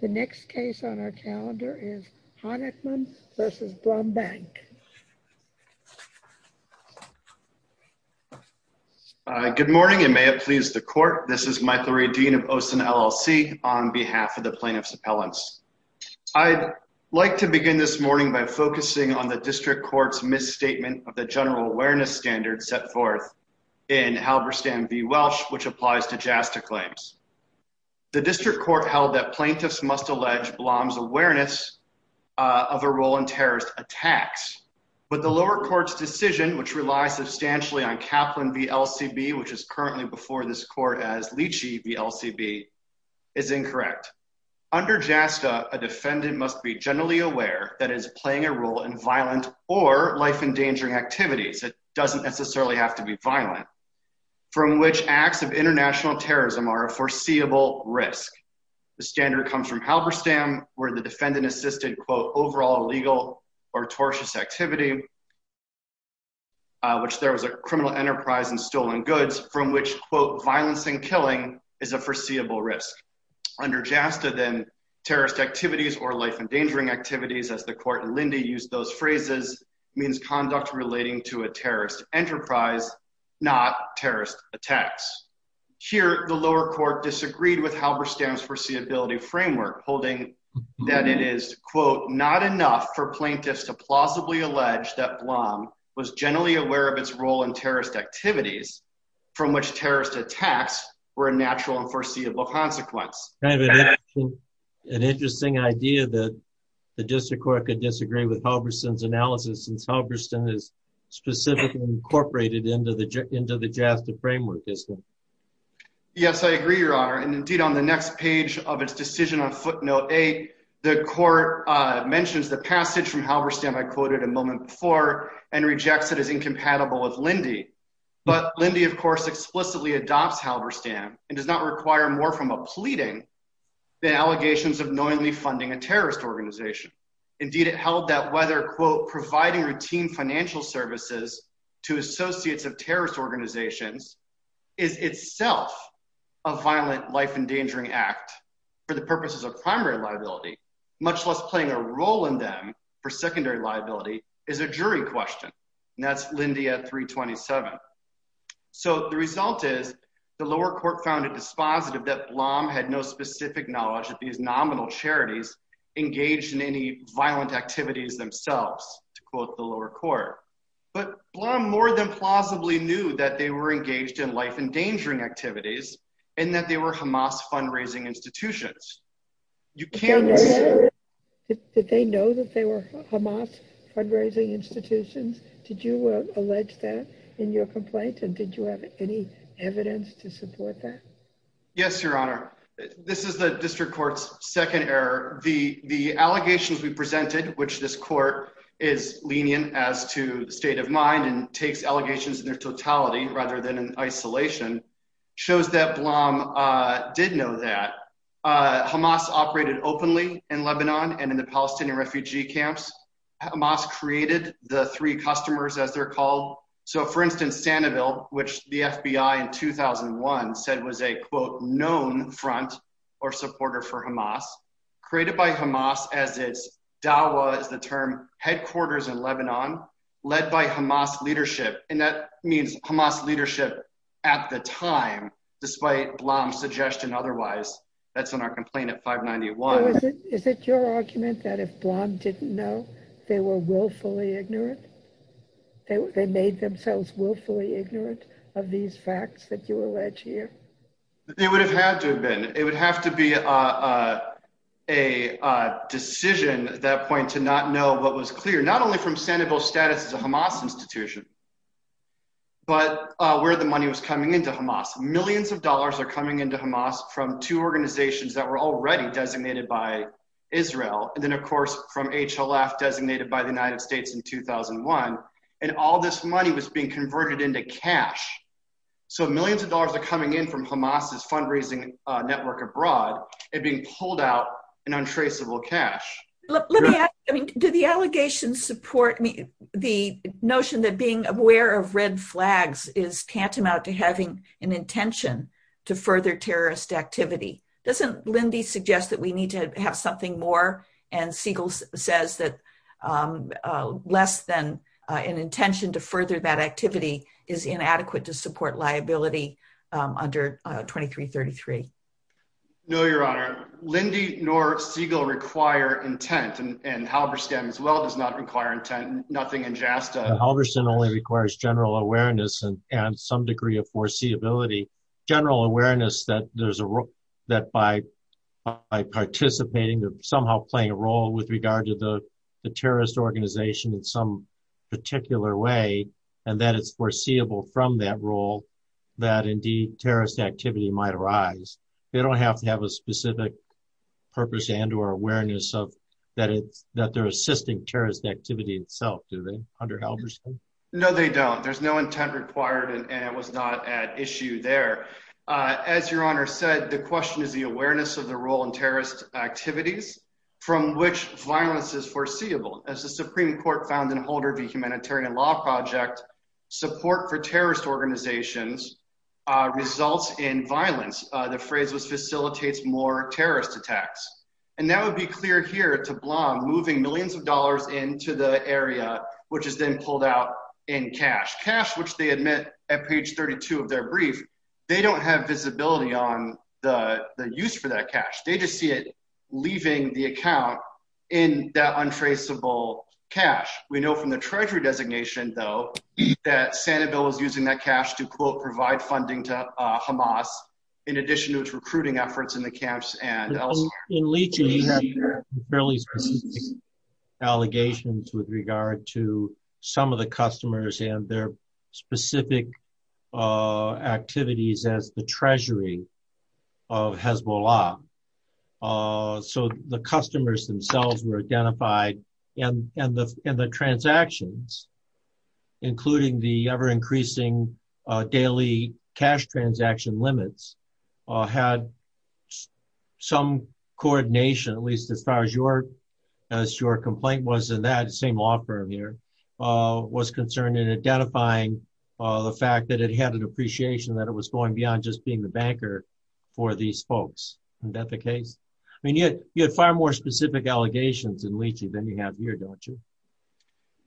The next case on our calendar is Honickman v. Brumbank. Good morning and may it please the court. This is Michael Reddin of OSIN LLC on behalf of the Plaintiffs' Appellants. I'd like to begin this morning by focusing on the District Court's misstatement of the general awareness standard set forth in Halberstam v. Welsh, which applies to JASTA claims. The District Court held that plaintiffs must allege Blom's awareness of a role in terrorist attacks, but the lower court's decision, which relies substantially on Kaplan v. LCB, which is currently before this court as Leachy v. LCB, is incorrect. Under JASTA, a defendant must be generally aware that is playing a role in violent or life-endangering activities. It doesn't necessarily have to be violent. From which acts of international terrorism are a foreseeable risk? The standard comes from Halberstam, where the defendant assisted, quote, overall illegal or tortious activity, which there was a criminal enterprise and stolen goods, from which, quote, violence and killing is a foreseeable risk. Under JASTA, then, terrorist activities or life-endangering activities, as the court in Linde used those phrases, means conduct relating to a terrorist enterprise, not terrorist attacks. Here, the lower court disagreed with Halberstam's foreseeability framework, holding that it is, quote, not enough for plaintiffs to plausibly allege that Blom was generally aware of its role in terrorist activities, from which terrorist attacks were a natural and foreseeable consequence. Kind of an interesting idea that the District has specifically incorporated into the JASTA framework, isn't it? Yes, I agree, Your Honor. And indeed, on the next page of its decision on footnote eight, the court mentions the passage from Halberstam I quoted a moment before and rejects it as incompatible with Linde. But Linde, of course, explicitly adopts Halberstam and does not require more from a pleading than allegations of knowingly funding a terrorist organization. Indeed, it held that whether, quote, providing routine financial services to associates of terrorist organizations is itself a violent, life-endangering act for the purposes of primary liability, much less playing a role in them for secondary liability, is a jury question. And that's Linde at 327. So the result is, the lower court found it dispositive that Blom had no specific knowledge that these nominal charities engaged in any violent activities themselves, to quote the lower court. But Blom more than plausibly knew that they were engaged in life-endangering activities and that they were Hamas fundraising institutions. Did they know that they were Hamas fundraising institutions? Did you allege that in your complaint? And did you have any evidence to support that? Yes, Your Honor. This is the district court's second error. The allegations we presented, which this court is lenient as to the state of mind and takes allegations in their totality rather than in isolation, shows that Blom did know that. Hamas operated openly in Lebanon and in the Palestinian refugee camps. Hamas created the three customers, as they're called. So for instance, Sanibel, which the FBI in 2001 said was a, quote, known front or supporter for Hamas, created by Hamas as its, DAWA is the term, headquarters in Lebanon, led by Hamas leadership. And that means Hamas leadership at the time, despite Blom's suggestion otherwise. That's in our complaint at 591. Is it your argument that if Blom didn't know, they were willfully ignorant? They made themselves willfully ignorant of these facts that you allege here? It would have had to have been. It would have to be a decision at that point to not know what was clear, not only from Sanibel's status as a Hamas institution, but where the money was coming into Hamas. Millions of dollars are coming into Hamas from two organizations that were already designated by Israel. And then of course, from HLF, designated by the United States in 2001. And all this money was being converted into cash. So millions of dollars are coming in from Hamas' fundraising network abroad, and being pulled out in untraceable cash. Let me ask, do the allegations support the notion that being aware of red flags is tantamount to having an intention to further terrorist activity? Doesn't Lindy suggest that we need to have something more, and Siegel says that less than an intention to further that activity is inadequate to support liability under 2333? No, Your Honor. Lindy nor Siegel require intent, and Halberstam as well does not require intent, nothing in JASTA. Halberstam only requires general awareness and some degree of foreseeability. General awareness that there's a role that by participating, they're somehow playing a role with regard to the terrorist organization in some particular way, and that it's foreseeable from that role, that indeed terrorist activity might arise. They don't have to have a specific purpose and or awareness of that they're assisting terrorist activity itself, do they, under Halberstam? No, they don't. There's no intent required, and it was not at issue there. As Your Honor said, the question is the awareness of the role in terrorist activities from which violence is foreseeable. As the Supreme Court found in Holder v. Humanitarian Law Project, support for terrorist organizations results in violence. The phrase was facilitates more terrorist attacks, and that would be cleared here to Blanc, moving millions of dollars into the area, which is then pulled out in cash. Cash, which they admit at page 32 of their brief, they don't have visibility on the use for that cash. They just see it leaving the account in that untraceable cash. We know from the Treasury designation, though, that Sanibel is using that cash to, quote, provide funding to in Leach. He had fairly specific allegations with regard to some of the customers and their specific activities as the Treasury of Hezbollah. So the customers themselves were identified, and the transactions, including the ever-increasing daily cash transaction limits, had some coordination, at least as far as your complaint was in that same law firm here, was concerned in identifying the fact that it had an appreciation that it was going beyond just being the banker for these folks. Isn't that the case? I mean, you had far more specific allegations in Leach than you have here, don't you?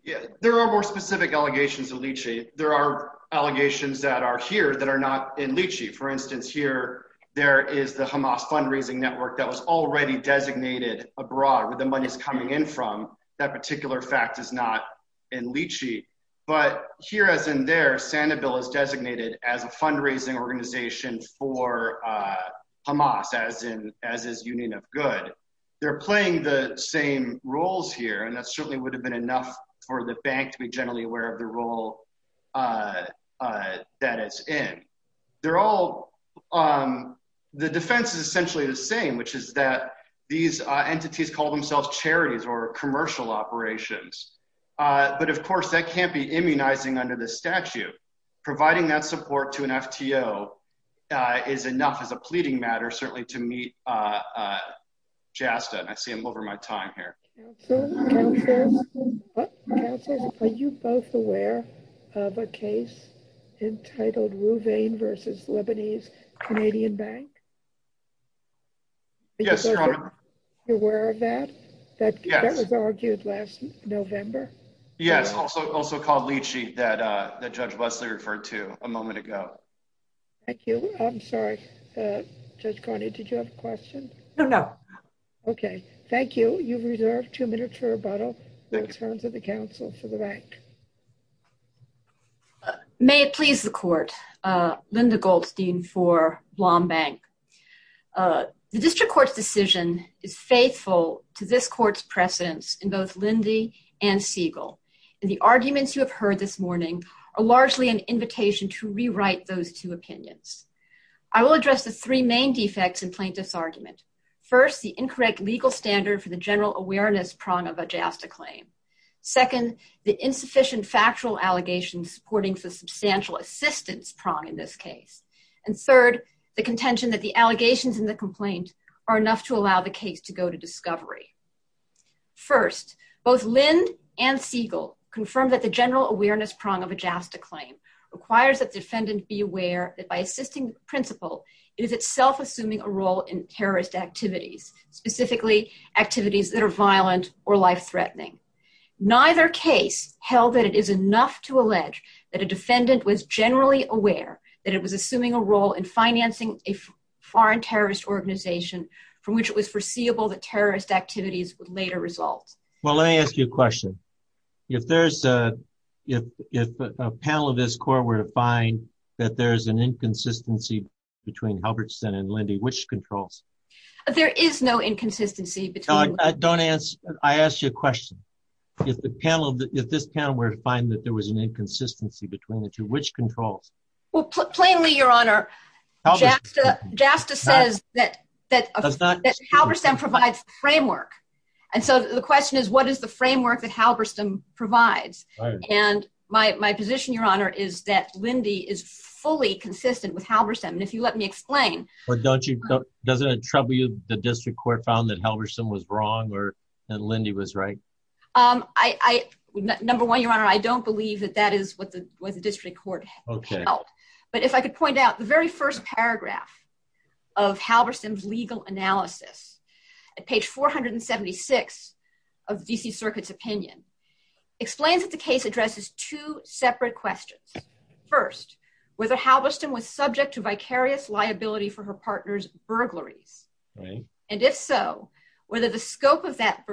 Yeah, there are more specific allegations in Leach. There are allegations that are here that are not in Leach. For instance, here, there is the Hamas fundraising network that was already designated abroad, where the money is coming in from. That particular fact is not in Leach. But here, as in there, Sanibel is designated as a fundraising organization for Hamas, as is Union of Good. They're playing the same roles here, and that certainly would have been enough for the bank to be generally aware of the role that it's in. The defense is essentially the same, which is that these entities call themselves charities or commercial operations. But of course, that can't be immunizing under the statute. Providing that support to an FTO is enough as a pleading matter, certainly to meet JASTA. I see I'm over my time here. Are you both aware of a case entitled Rouvain versus Lebanese Canadian Bank? Yes, Your Honor. You're aware of that? That was argued last November? Yes, also called Leachy, that Judge Wesley referred to a moment ago. Thank you. I'm sorry. Judge Carney, did you have a question? No, no. Okay. Thank you. You've reserved two minutes for rebuttal. I'll turn to the counsel for the bank. May it please the court. Linda Goldstein for Blombank. The district court's decision is faithful to this court's precedence in both Lindy and Siegel, and the arguments you have heard this morning are largely an invitation to rewrite those two opinions. I will address the three defects in plaintiff's argument. First, the incorrect legal standard for the general awareness prong of a JASTA claim. Second, the insufficient factual allegations supporting the substantial assistance prong in this case. And third, the contention that the allegations in the complaint are enough to allow the case to go to discovery. First, both Lind and Siegel confirm that the general awareness prong of a JASTA claim requires that the defendant be aware that by assisting principle, it is itself assuming a role in terrorist activities, specifically activities that are violent or life-threatening. Neither case held that it is enough to allege that a defendant was generally aware that it was assuming a role in financing a foreign terrorist organization from which it was foreseeable that terrorist activities would later result. Well, let me ask you a question. If a panel of this court were to find that there's an inconsistency between Halberstam and Lindy, which controls? There is no inconsistency between... I asked you a question. If this panel were to find that there was an inconsistency between the two, which controls? Well, plainly, Your Honor, JASTA says that Halberstam provides framework. And so the question is, what is the framework that Halberstam provides? And my position, Your Honor, is that Halberstam, and if you let me explain... But doesn't it trouble you that the district court found that Halberstam was wrong and Lindy was right? Number one, Your Honor, I don't believe that that is what the district court held. But if I could point out, the very first paragraph of Halberstam's legal analysis at page 476 of the D.C. Circuit's opinion explains that the case addresses two separate questions. First, whether Halberstam was subject to vicarious liability for her partner's burglaries. And if so, whether the scope of that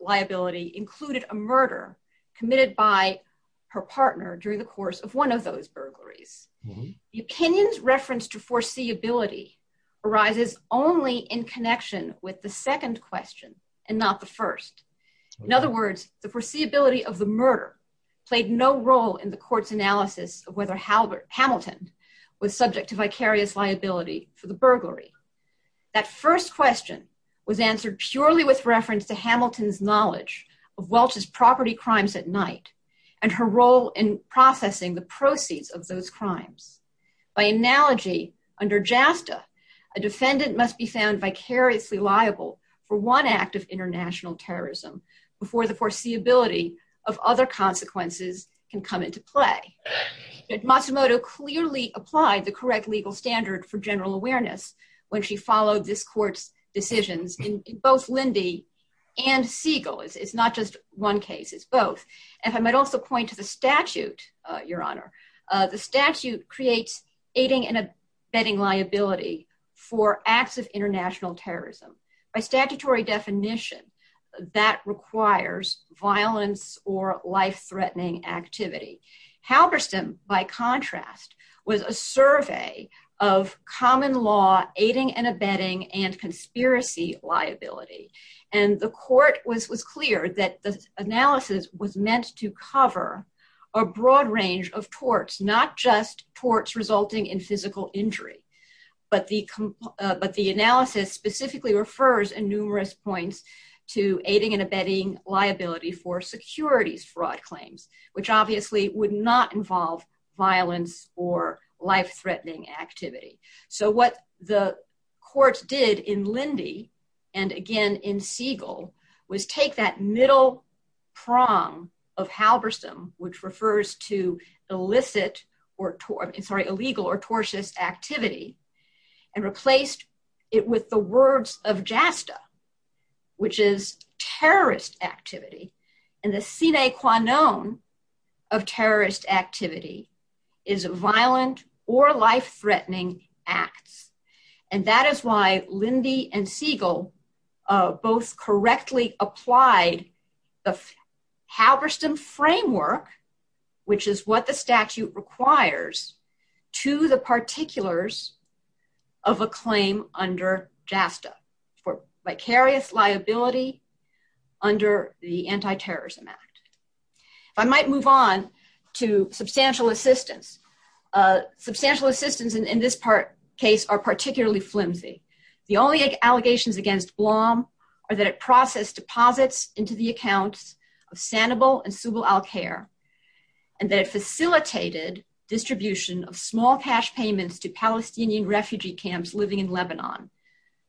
liability included a murder committed by her partner during the course of one of those burglaries. The opinion's reference to foreseeability arises only in connection with the second question and not the first. In other words, the foreseeability of the murder played no role in the court's analysis of whether Hamilton was subject to vicarious liability for the burglary. That first question was answered purely with reference to Hamilton's knowledge of Welch's property crimes at night and her role in processing the proceeds of those crimes. By analogy, under JASTA, a defendant must be found vicariously liable for one act of international terrorism. In other words, a defendant must be found vicariously liable for one act of international terrorism. In other words, a defendant must be found vicariously liable for one act of international terrorism. Now, I'm not going to go into the details of this case, but I will point out that it's not just one case. It's both. And I might also point to the statute, Your Honor. The statute creates aiding and abetting liability for acts of international terrorism. By statutory definition, that requires violence or life-threatening activity. Halberstam, by contrast, was a survey of common law aiding and abetting and conspiracy liability. And the court was clear that the analysis was meant to cover a broad range of torts, not just torts resulting in physical injury. But the analysis specifically refers, in numerous points, to aiding and abetting liability for securities fraud claims, which obviously would not involve violence or life-threatening activity. So what the courts did in Lindy and again in Siegel was take that middle prong of Halberstam, which refers to illicit, sorry, illegal or tortious activity, and replaced it with the words of JASTA, which is terrorist activity. And the sine qua non of terrorist activity is violent or life-threatening acts. And that is why Lindy and Siegel both correctly applied the Halberstam framework, which is what the statute requires, to the particulars of a claim under JASTA for vicarious liability under the Anti-Terrorism Act. If I might move on to substantial assistance. Substantial assistance in this part case are particularly flimsy. The only allegations against BLOM are that it processed deposits into the accounts of Sanibel and Subel Al-Khair, and that it facilitated distribution of small cash payments to Palestinian refugee camps living in Lebanon,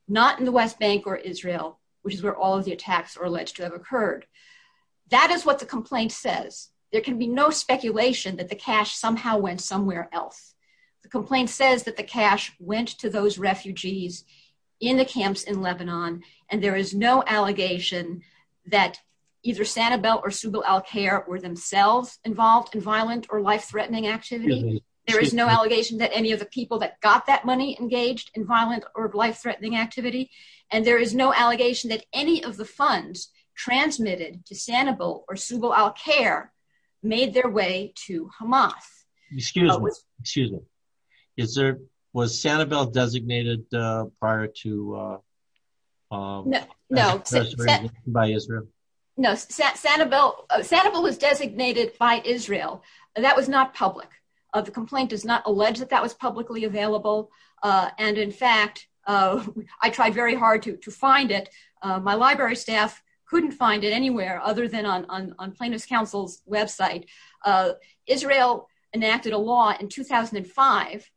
not in the West Bank or Israel, which is where all of the attacks are alleged to have occurred. That is what the complaint says. There can be no speculation that the cash somehow went somewhere else. The complaint says that the cash went to those refugees in the camps in Lebanon, and there is no allegation that either Sanibel or Subel Al-Khair were themselves involved in violent or life-threatening activity. There is no allegation that any of the people that got that money engaged in violent or life-threatening activity, and there is no allegation that any of the funds transmitted to Sanibel or Subel Al-Khair made their way to Hamas. Excuse me, was Sanibel designated prior to by Israel? No, Sanibel was designated by Israel. That was not public. The complaint does not I tried very hard to find it. My library staff couldn't find it anywhere other than on Plaintiff's Council's website. Israel enacted a law in 2005,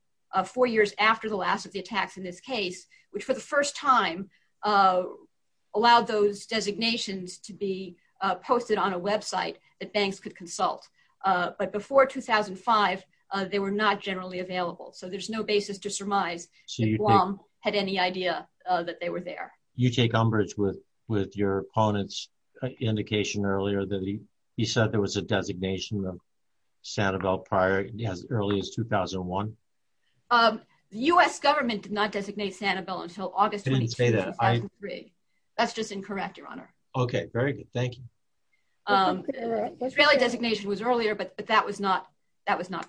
four years after the last of the attacks in this case, which for the first time allowed those designations to be posted on a website that banks could consult. But before 2005, they were not generally available, so there's no basis to that they were there. You take umbrage with your opponent's indication earlier that he said there was a designation of Sanibel prior, as early as 2001? The U.S. government did not designate Sanibel until August 23. That's just incorrect, your honor. Okay, very good, thank you. Israeli designation was earlier, but that was not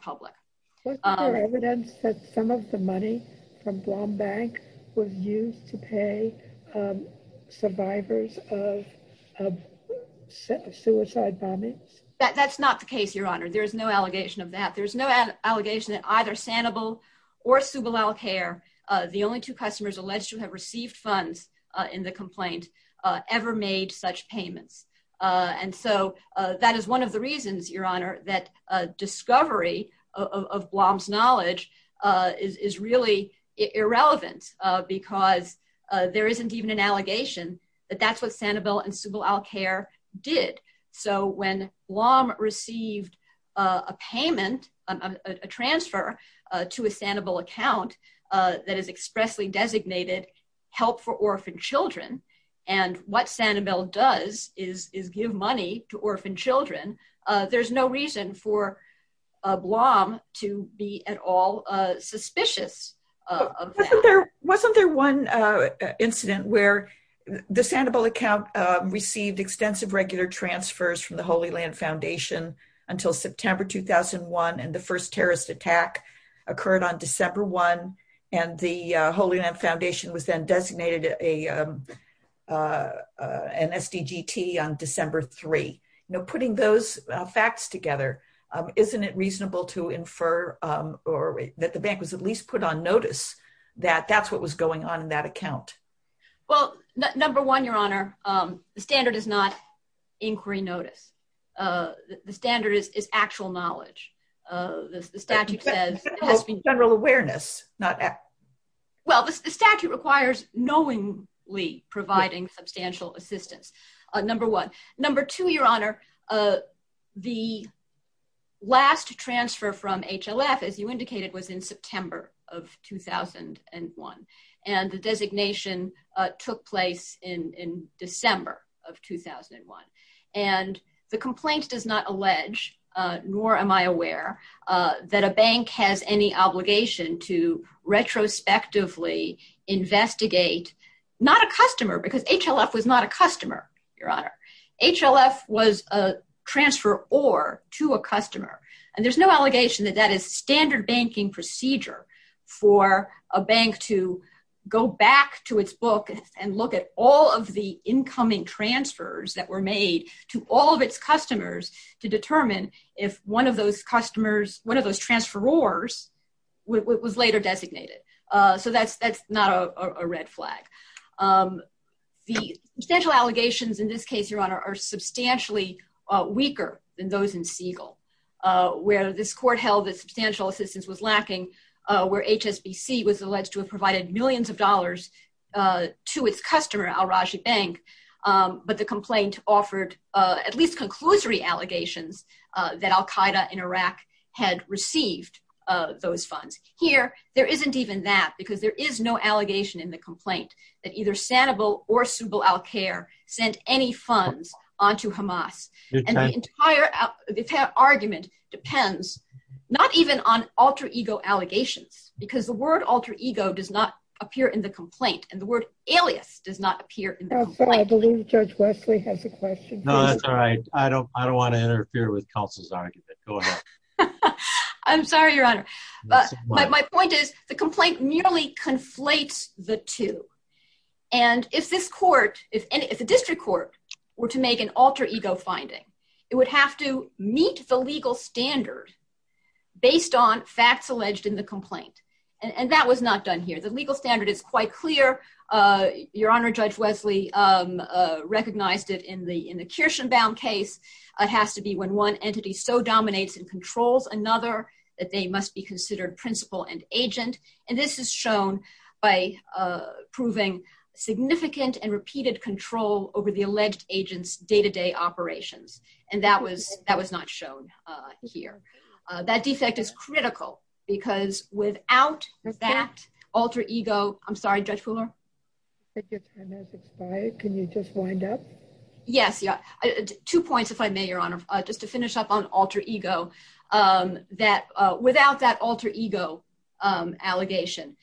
public. Was there evidence that some of the money from Blom Bank was used to pay survivors of suicide bombings? That's not the case, your honor. There's no allegation of that. There's no allegation that either Sanibel or Subalal-Khair, the only two customers alleged to have received funds in the complaint, ever made such payments. And so that is one of the reasons, your honor, that a discovery of Blom's knowledge is really irrelevant, because there isn't even an allegation that that's what Sanibel and Subalal-Khair did. So when Blom received a payment, a transfer to a Sanibel account that is expressly designated help for orphan children, and what Sanibel does is give money to orphan children, there's no reason for Blom to be at all suspicious of that. Wasn't there one incident where the Sanibel account received extensive regular transfers from the Holy Land Foundation until September 2001, and the first terrorist attack occurred on December 1, and the Holy Land Foundation was then designated an SDGT on December 3? You know, putting those facts together, isn't it reasonable to infer or that the bank was at least put on notice that that's what was going on in that account? Well, number one, your honor, the standard is not inquiry notice. The standard is actual knowledge. The statute says general awareness. Well, the statute requires knowingly providing substantial assistance, number one. Number two, your honor, the last transfer from HLF, as you indicated, was in September of 2001, and the designation took place in December of 2001, and the complaint does not allege, nor am I aware, that a bank has any obligation to retrospectively investigate, not a customer, because HLF was not a customer, your honor. HLF was a transfer or to a customer, and there's no allegation that that is standard banking procedure for a bank to go back to its book and look at all of the incoming transfers that were made to all of its customers to determine if one of those customers, one of those transferors was later designated. So that's not a red flag. The substantial allegations in this case, your honor, are substantially weaker than those in Siegel, where this court held that substantial assistance was lacking, where HSBC was alleged to have provided millions of dollars to its customer, Al-Rajhi Bank, but the complaint offered at least conclusory allegations that Al-Qaeda in Iraq had received those funds. Here, there isn't even that, because there is no allegation in the complaint that either Sanibal or Soobal al-Khair sent any funds onto Hamas, and the entire argument depends not even on alter ego allegations, because the word alter ego does not appear in the complaint, and the word alias does not appear in the complaint. I believe Judge Wesley has a question. No, that's all right. I don't want to interfere with counsel's argument. Go ahead. I'm sorry, your honor. My point is the complaint merely conflates the two, and if this court, if the district court were to make an alter ego finding, it would have to meet the legal standard based on facts alleged in the complaint, and that was not done here. The legal standard is quite clear. Your honor, Judge Wesley recognized it in the Kirshenbaum case. It has to be when one entity so dominates and controls another that they must be considered principal and agent, and this is shown by proving significant and repeated control over the alleged agent's day-to-day operations, and that was not shown here. That defect is critical, because without that alter ego, I'm sorry, Judge Fuller. Your time has expired. Can you just wind up? Yes. Two points, if I may, your honor, just to finish up on alter ego, that without that alter ego allegation,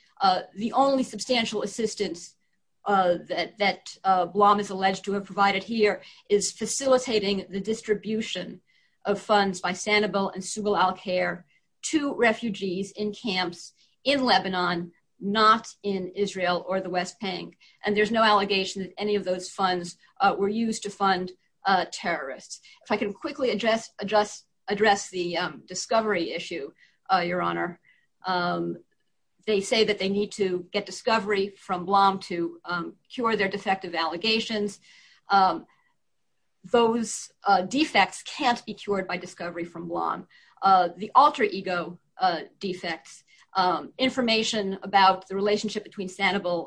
the only substantial assistance that Blom is alleged to have provided here is facilitating the distribution of funds by Sanibel and Sugal Al-Khair to refugees in camps in Lebanon, not in Israel or the West Bank, and there's no allegation that any of those funds were used to fund terrorists. If I can quickly address the discovery issue, your honor. They say that they need to get discovery from Blom to cure their defective allegations. Those defects can't be cured by discovery from Blom. The alter ego defects, information about the relationship between Sanibel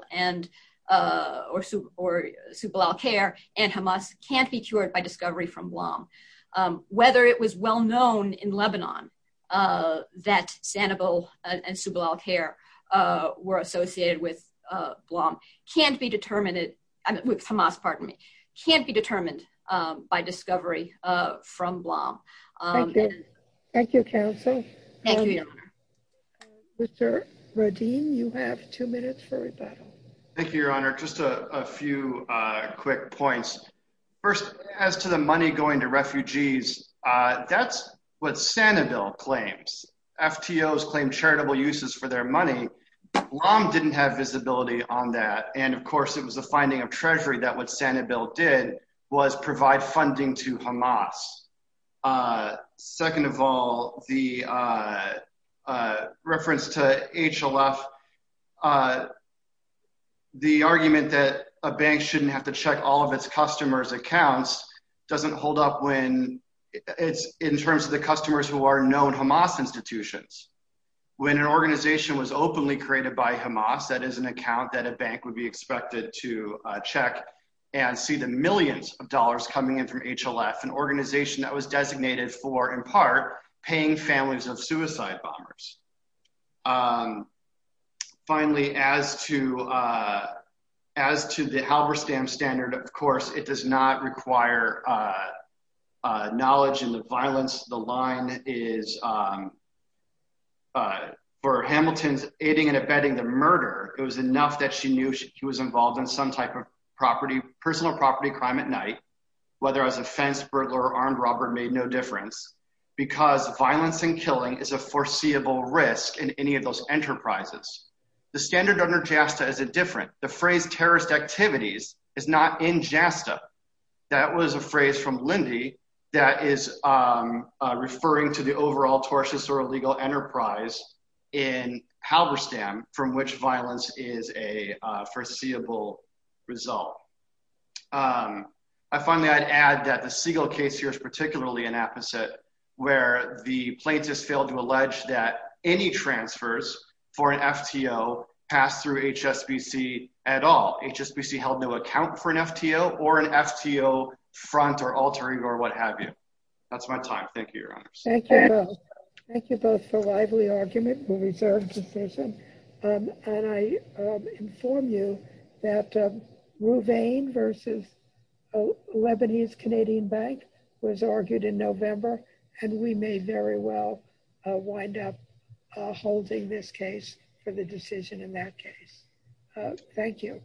or Sugal Al-Khair and Hamas can't be cured by discovery from Blom. Whether it was well known in Lebanon that Sanibel and Sugal Al-Khair were associated with Hamas can't be determined by discovery from Blom. Thank you. Thank you, counsel. Thank you, your honor. Mr. Radim, you have two minutes for rebuttal. Thank you, your honor. Just a few quick points. First, as to the money going to refugees, that's what Sanibel claims. FTOs claim charitable uses for their money. Blom didn't have visibility on that, and of course, it was the finding of Treasury that what Sanibel did was provide funding to Hamas. Second of all, the reference to HLF, the argument that a bank shouldn't have to check all of its customers' accounts doesn't hold up when it's in terms of the customers who are known Hamas institutions. When an organization was openly created by Hamas, that is an account that a bank would be expected to check and see the millions of dollars coming in from HLF, an organization that was designated for, in part, paying families of suicide bombers. Finally, as to the Halberstam standard, of course, it does not require knowledge in the violence. The line is, for Hamilton's aiding and abetting the murder, it was enough that she knew she was involved in some type of personal property crime at night, whether as a fenced burglar or armed robber made no difference, because violence and killing is a foreseeable risk in any of those enterprises. The standard under JASTA is a different. The phrase terrorist activities is not in JASTA. That was a phrase from Lindy that is referring to the overall tortious or illegal enterprise in Halberstam from which violence is a foreseeable result. I find that I'd add that the Segal case here is particularly an apposite, where the plaintiffs failed to allege that any transfers for an FTO passed through HSBC at all. HSBC held no account for an FTO or an FTO front or altering or what have you. That's my time. Thank you, Your Honors. Thank you both. Thank you both for lively argument and reserved decision. I inform you that Rouvain versus Lebanese Canadian Bank was argued in November, and we may very well wind up holding this case for the decision in that case. Thank you.